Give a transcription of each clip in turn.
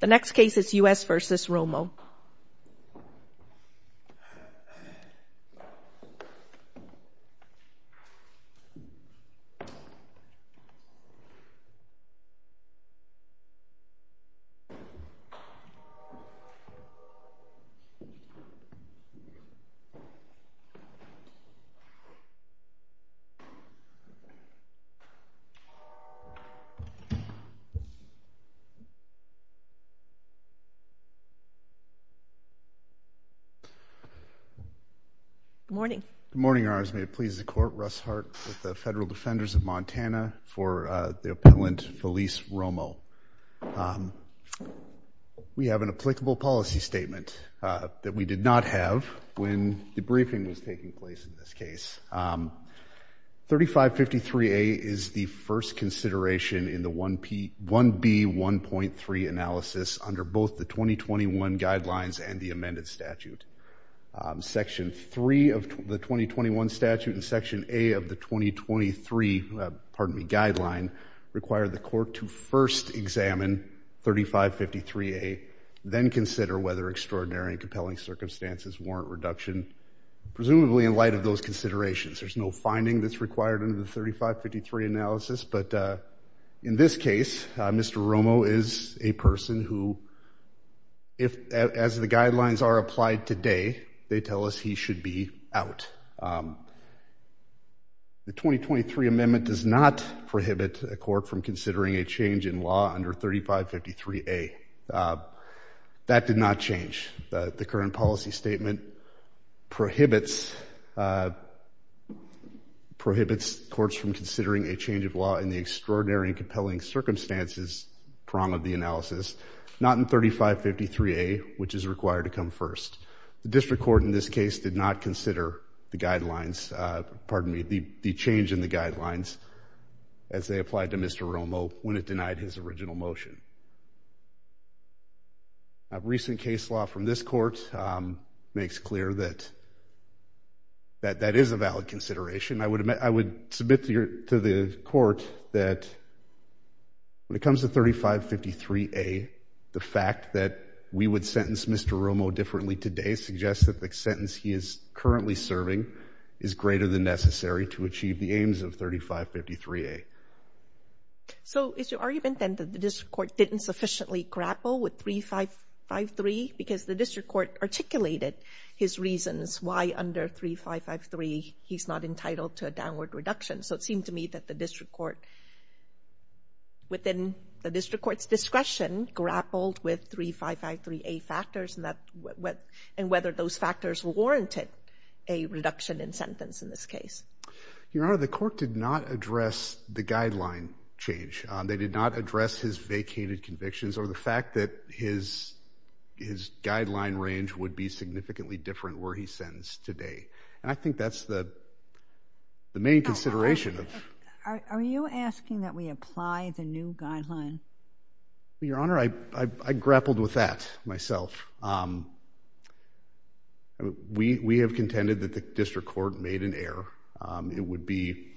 The next case is U.S. v. Romo. Good morning. Good morning, Your Honors. May it please the Court, Russ Hart with the Federal Defenders of Montana for the appellant Felice Romo. We have an applicable policy statement that we did not have when the briefing was taking place in this case. 3553A is the first consideration in the 1B1.3 analysis under both the 2021 guidelines and the amended statute. Section 3 of the 2021 statute and Section A of the 2023, pardon me, guideline require the Court to first examine 3553A, then consider whether extraordinary and compelling circumstances warrant reduction, presumably in light of those considerations. There's no finding that's required under the 3553 analysis. But in this case, Mr. Romo is a person who, as the guidelines are applied today, they tell us he should be out. The 2023 amendment does not prohibit a court from considering a change in law under 3553A. That did not change. The current policy statement prohibits courts from considering a change of law in the extraordinary and compelling circumstances prong of the analysis, not in 3553A, which is required to come first. The district court in this case did not consider the guidelines, pardon me, the change in the guidelines as they applied to Mr. Romo when it denied his original motion. Recent case law from this court makes clear that that is a valid consideration. I would submit to the court that when it comes to 3553A, the fact that we would sentence Mr. Romo differently today suggests that the sentence he is currently serving is greater than necessary to achieve the aims of 3553A. So is your argument then that the district court didn't sufficiently grapple with 3553 because the district court articulated his reasons why under 3553 he's not entitled to a downward reduction? So it seemed to me that the district court, within the district court's discretion, grappled with 3553A factors and whether those factors warranted a reduction in sentence in this case. Your Honor, the court did not address the guideline change. They did not address his vacated convictions or the fact that his guideline range would be significantly different where he's sentenced today. And I think that's the main consideration. Are you asking that we apply the new guideline? Your Honor, I grappled with that myself. We have contended that the district court made an error.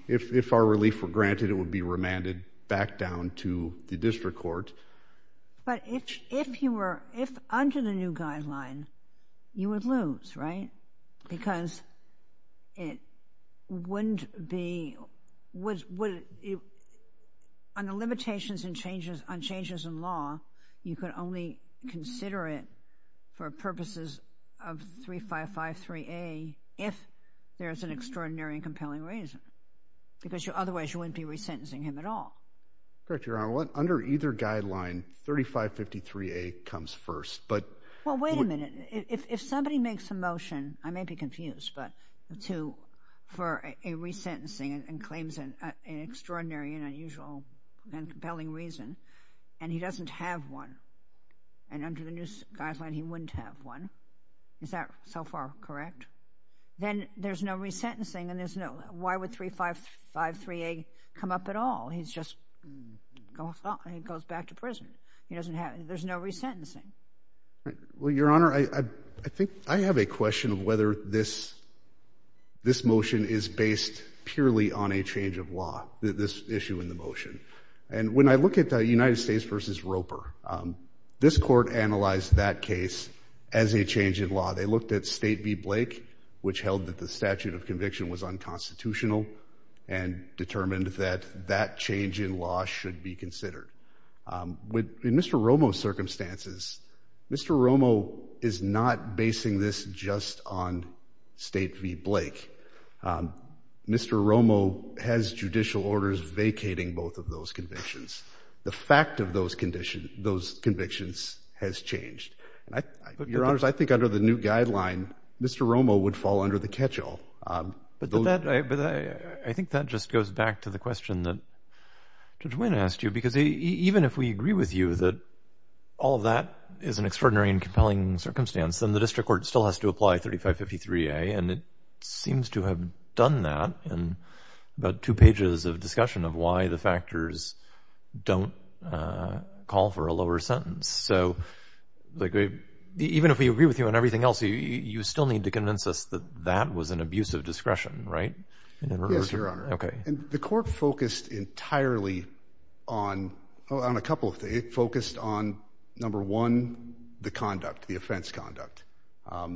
If our relief were granted, it would be remanded back down to the district court. But if under the new guideline, you would lose, right? Because it wouldn't be... Because otherwise you wouldn't be resentencing him at all. Correct, Your Honor. Under either guideline, 3553A comes first. Well, wait a minute. If somebody makes a motion, I may be confused, but to... for a resentencing and claims an extraordinary and unusual and compelling reason, and he doesn't have one, and under the new guideline he wouldn't have one, is that so far correct? Then there's no resentencing and there's no... Why would 3553A come up at all? He's just... he goes back to prison. He doesn't have... there's no resentencing. Well, Your Honor, I think I have a question of whether this motion is based purely on a change of law, this issue in the motion. And when I look at the United States v. Roper, this court analyzed that case as a change in law. They looked at State v. Blake, which held that the statute of conviction was unconstitutional, and determined that that change in law should be considered. In Mr. Romo's circumstances, Mr. Romo is not basing this just on State v. Blake. Mr. Romo has judicial orders vacating both of those convictions. The fact of those convictions has changed. Your Honors, I think under the new guideline, Mr. Romo would fall under the catch-all. But that... I think that just goes back to the question that Judge Winn asked you, because even if we agree with you that all of that is an extraordinary and compelling circumstance, then the district court still has to apply 3553A, and it seems to have done that in about two pages of discussion of why the factors don't call for a lower sentence. So even if we agree with you on everything else, you still need to convince us that that was an abuse of discretion, right? Yes, Your Honor. Okay. The court focused entirely on a couple of things. It focused on, number one, the conduct, the offense conduct.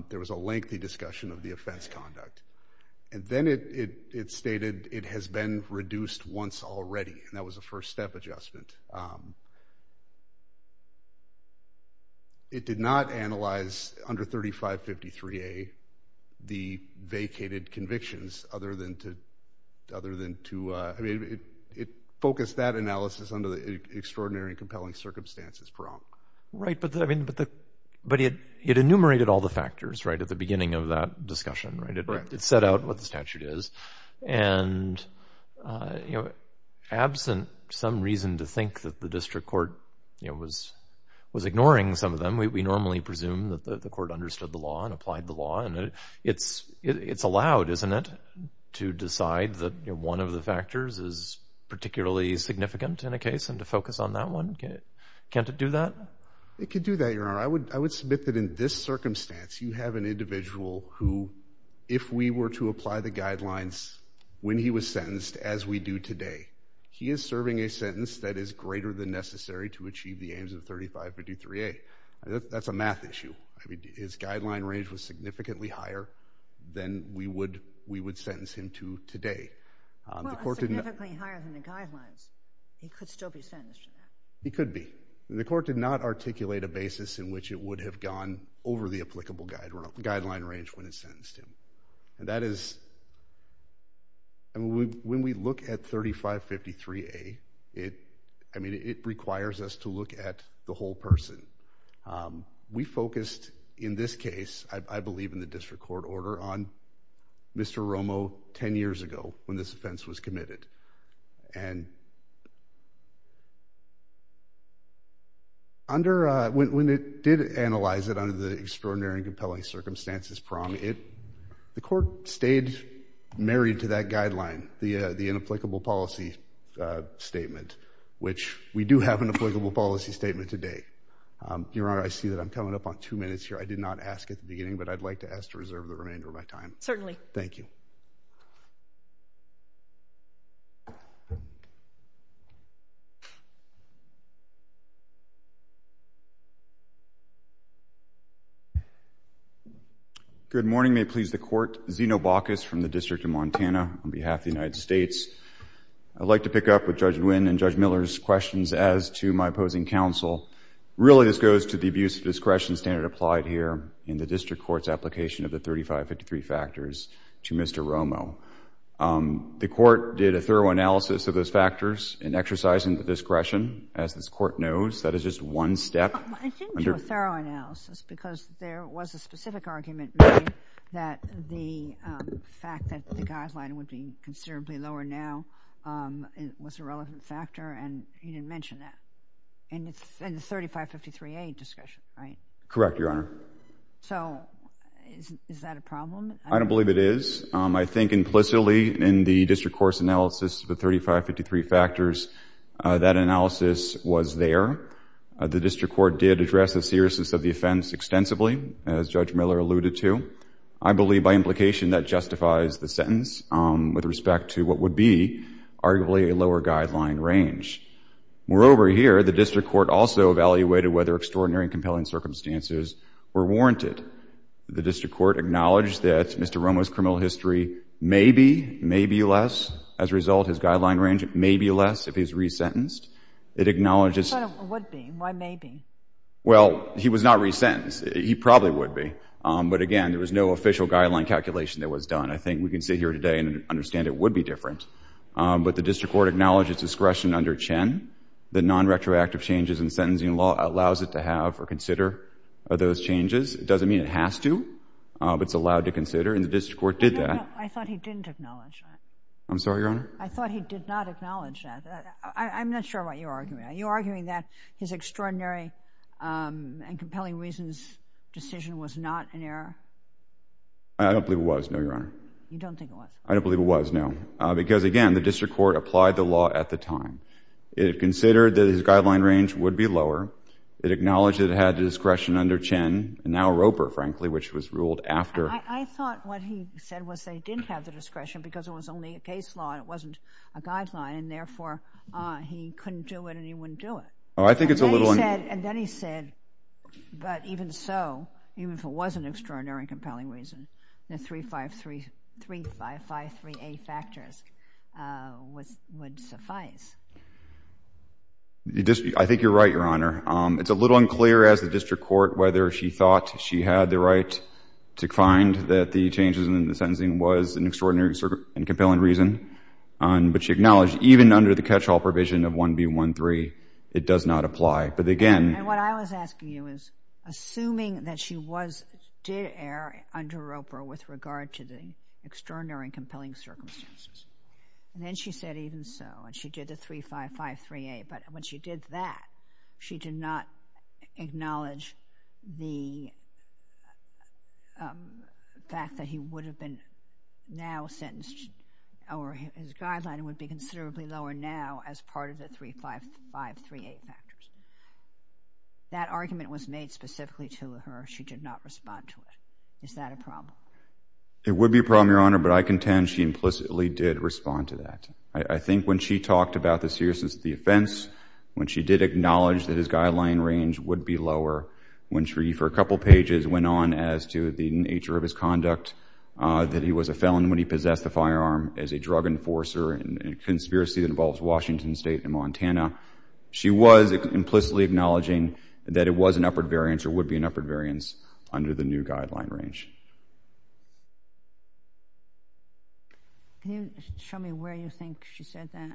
There was a lengthy discussion of the offense conduct. And then it stated it has been reduced once already, and that was a first-step adjustment. It did not analyze, under 3553A, the vacated convictions other than to... I mean, it focused that analysis under the extraordinary and compelling circumstances. Right, but it enumerated all the factors, right, at the beginning of that discussion, right? Correct. It set out what the statute is. And absent some reason to think that the district court was ignoring some of them, we normally presume that the court understood the law and applied the law. And it's allowed, isn't it, to decide that one of the factors is particularly significant in a case and to focus on that one? Can't it do that? It could do that, Your Honor. I would submit that in this circumstance, you have an individual who, if we were to apply the guidelines when he was sentenced, as we do today, he is serving a sentence that is greater than necessary to achieve the aims of 3553A. That's a math issue. I mean, his guideline range was significantly higher than we would sentence him to today. Well, significantly higher than the guidelines. He could still be sentenced for that. He could be. The court did not articulate a basis in which it would have gone over the applicable guideline range when it sentenced him. And that is, when we look at 3553A, I mean, it requires us to look at the whole person. We focused, in this case, I believe in the district court order, on Mr. Romo 10 years ago when this offense was committed. And when it did analyze it under the extraordinary and compelling circumstances, the court stayed married to that guideline, the inapplicable policy statement, which we do have an applicable policy statement today. Your Honor, I see that I'm coming up on two minutes here. I did not ask at the beginning, but I'd like to ask to reserve the remainder of my time. Certainly. Thank you. Thank you. Good morning. May it please the Court. Zeno Bacchus from the District of Montana on behalf of the United States. I'd like to pick up with Judge Nguyen and Judge Miller's questions as to my opposing counsel. Really, this goes to the abuse of discretion standard applied here in the district court's application of the 3553 factors to Mr. Romo. The court did a thorough analysis of those factors in exercising the discretion. As this court knows, that is just one step. I didn't do a thorough analysis because there was a specific argument made that the fact that the guideline would be considerably lower now was a relevant factor, and you didn't mention that in the 3553A discussion, right? Correct, Your Honor. So is that a problem? I don't believe it is. I think implicitly in the district court's analysis of the 3553 factors, that analysis was there. The district court did address the seriousness of the offense extensively, as Judge Miller alluded to. I believe by implication that justifies the sentence with respect to what would be arguably a lower guideline range. Moreover, here, the district court also evaluated whether extraordinary and compelling circumstances were warranted. The district court acknowledged that Mr. Romo's criminal history may be, may be less. As a result, his guideline range may be less if he's resentenced. It acknowledges— I thought it would be. Why may be? Well, he was not resentenced. He probably would be. But again, there was no official guideline calculation that was done. I think we can sit here today and understand it would be different. But the district court acknowledged its discretion under Chen that non-retroactive changes in sentencing law allows it to have or consider those changes. It doesn't mean it has to, but it's allowed to consider. And the district court did that. I thought he didn't acknowledge that. I'm sorry, Your Honor? I thought he did not acknowledge that. I'm not sure what you're arguing. Are you arguing that his extraordinary and compelling reasons decision was not an error? I don't believe it was, no, Your Honor. You don't think it was? I don't believe it was, no. Because, again, the district court applied the law at the time. It considered that his guideline range would be lower. It acknowledged that it had the discretion under Chen, and now Roper, frankly, which was ruled after. I thought what he said was they didn't have the discretion because it was only a case law and it wasn't a guideline, and therefore he couldn't do it and he wouldn't do it. Oh, I think it's a little un- And then he said, but even so, even if it was an extraordinary and compelling reason, the 353A factors would suffice. I think you're right, Your Honor. It's a little unclear as the district court whether she thought she had the right to find that the changes in the sentencing was an extraordinary and compelling reason, but she acknowledged even under the catch-all provision of 1B13, it does not apply. But, again- And what I was asking you is, assuming that she was, did err under Roper with regard to the extraordinary and compelling circumstances, and then she said even so, and she did the 35538, but when she did that, she did not acknowledge the fact that he would have been now sentenced, or his guideline would be considerably lower now as part of the 35538 factors. That argument was made specifically to her. She did not respond to it. Is that a problem? It would be a problem, Your Honor, but I contend she implicitly did respond to that. I think when she talked about the seriousness of the offense, when she did acknowledge that his guideline range would be lower, when she, for a couple pages, went on as to the nature of his conduct, that he was a felon when he possessed a firearm as a drug enforcer in a conspiracy that involves Washington State and Montana, she was implicitly acknowledging that it was an upward variance under the new guideline range. Can you show me where you think she said that?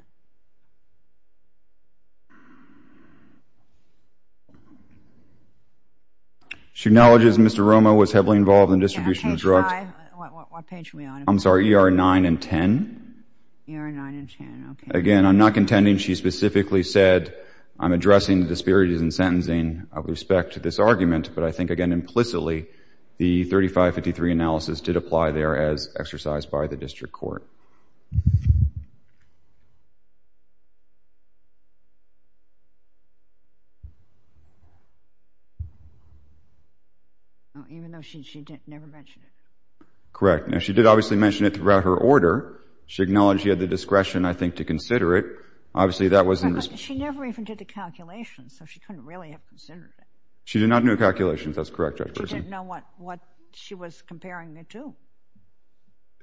She acknowledges Mr. Romo was heavily involved in distribution of drugs. Yeah, page 5. What page were we on? I'm sorry, ER 9 and 10. ER 9 and 10, okay. Again, I'm not contending she specifically said, I'm addressing disparities in sentencing with respect to this argument, but I think, again, implicitly the 3553 analysis did apply there as exercised by the district court. Even though she never mentioned it. Correct. Now, she did obviously mention it throughout her order. She acknowledged she had the discretion, I think, to consider it. Obviously, that was in response. She never even did the calculations, so she couldn't really have considered it. She did not do the calculations. That's correct, Judge Persin. She didn't know what she was comparing it to.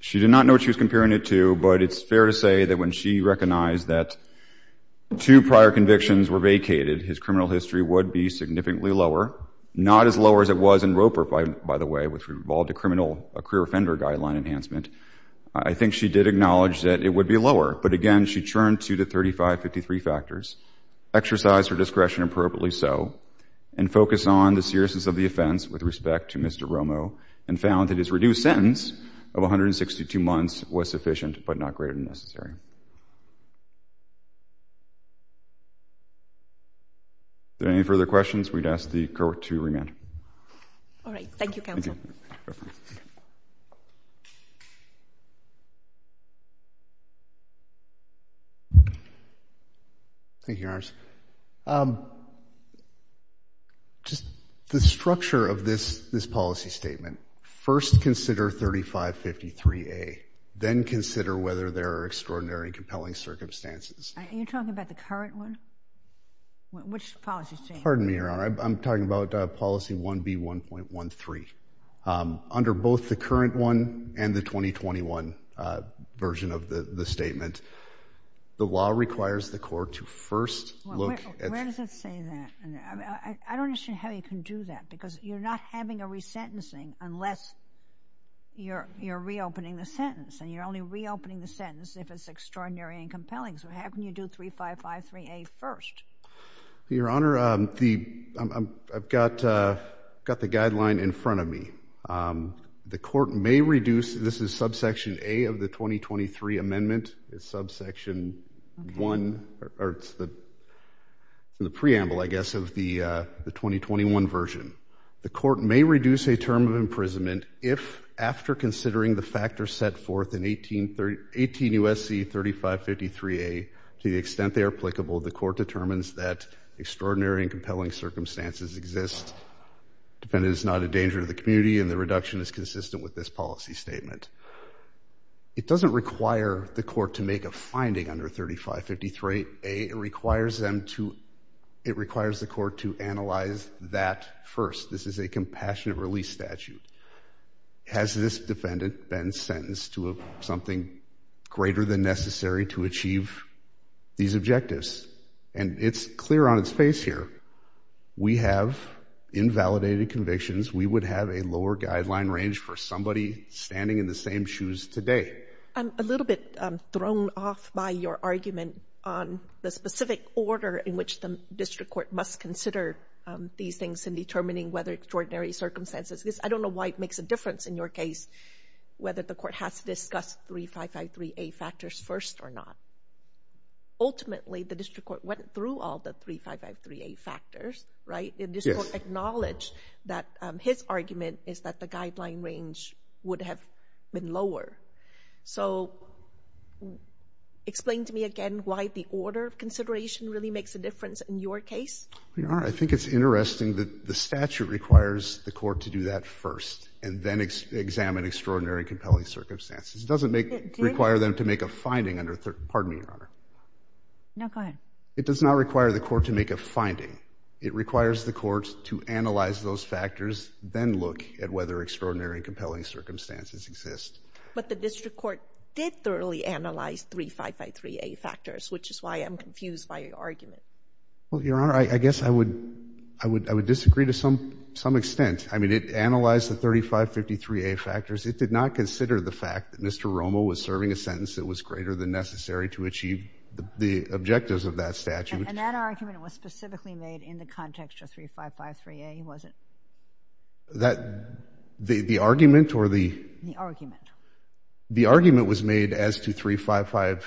She did not know what she was comparing it to, but it's fair to say that when she recognized that two prior convictions were vacated, his criminal history would be significantly lower, not as lower as it was in Roper, by the way, which involved a career offender guideline enhancement. I think she did acknowledge that it would be lower, but, again, she turned to the 3553 factors, exercised her discretion appropriately so, and focused on the seriousness of the offense with respect to Mr. Romo and found that his reduced sentence of 162 months was sufficient but not greater than necessary. Are there any further questions? We'd ask the court to remain. All right. Thank you, counsel. Thank you. Thank you, Your Honors. Just the structure of this policy statement, first consider 3553A, then consider whether there are extraordinary compelling circumstances. Are you talking about the current one? Which policy statement? Pardon me, Your Honor. I'm talking about policy 1B1.13. Under both the current one and the 2021 version of the statement, the law requires the court to first look at the- Where does it say that? I don't understand how you can do that because you're not having a resentencing unless you're reopening the sentence and you're only reopening the sentence if it's extraordinary and compelling, so how can you do 3553A first? Your Honor, I've got the guideline in front of me. The court may reduce-this is subsection A of the 2023 amendment. It's subsection 1, or it's the preamble, I guess, of the 2021 version. The court may reduce a term of imprisonment if, after considering the factors set forth in 18 U.S.C. 3553A, to the extent they are applicable, the court determines that extraordinary and compelling circumstances exist. The defendant is not a danger to the community, and the reduction is consistent with this policy statement. It doesn't require the court to make a finding under 3553A. It requires them to-it requires the court to analyze that first. This is a compassionate release statute. Has this defendant been sentenced to something greater than necessary to achieve these objectives? And it's clear on its face here. We have invalidated convictions. We would have a lower guideline range for somebody standing in the same shoes today. I'm a little bit thrown off by your argument on the specific order in which the district court must consider these things in determining whether extraordinary circumstances exist. I don't know why it makes a difference in your case, whether the court has to discuss 3553A factors first or not. Ultimately, the district court went through all the 3553A factors, right? The district court acknowledged that his argument is that the guideline range would have been lower. So explain to me again why the order of consideration really makes a difference in your case? Your Honor, I think it's interesting that the statute requires the court to do that first and then examine extraordinary and compelling circumstances. It doesn't make-require them to make a finding under-pardon me, Your Honor. No, go ahead. It does not require the court to make a finding. It requires the court to analyze those factors, then look at whether extraordinary and compelling circumstances exist. But the district court did thoroughly analyze 3553A factors, which is why I'm confused by your argument. Well, Your Honor, I guess I would disagree to some extent. I mean, it analyzed the 3553A factors. It did not consider the fact that Mr. Romo was serving a sentence that was greater than necessary to achieve the objectives of that statute. And that argument was specifically made in the context of 3553A, was it? That the argument or the- The argument. The argument was made as to 355-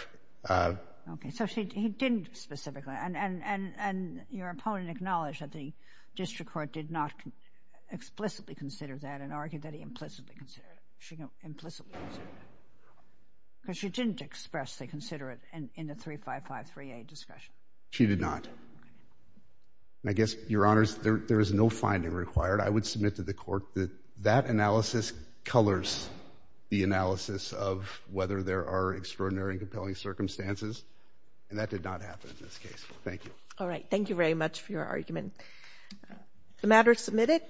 Okay. So he didn't specifically. And your opponent acknowledged that the district court did not explicitly consider that and argued that he implicitly considered it. She implicitly considered it. Because she didn't expressly consider it in the 3553A discussion. She did not. And I guess, Your Honors, there is no finding required. I would submit to the court that that analysis colors the analysis of whether there are extraordinary and compelling circumstances. And that did not happen in this case. Thank you. All right. Thank you very much for your argument. The matter is submitted.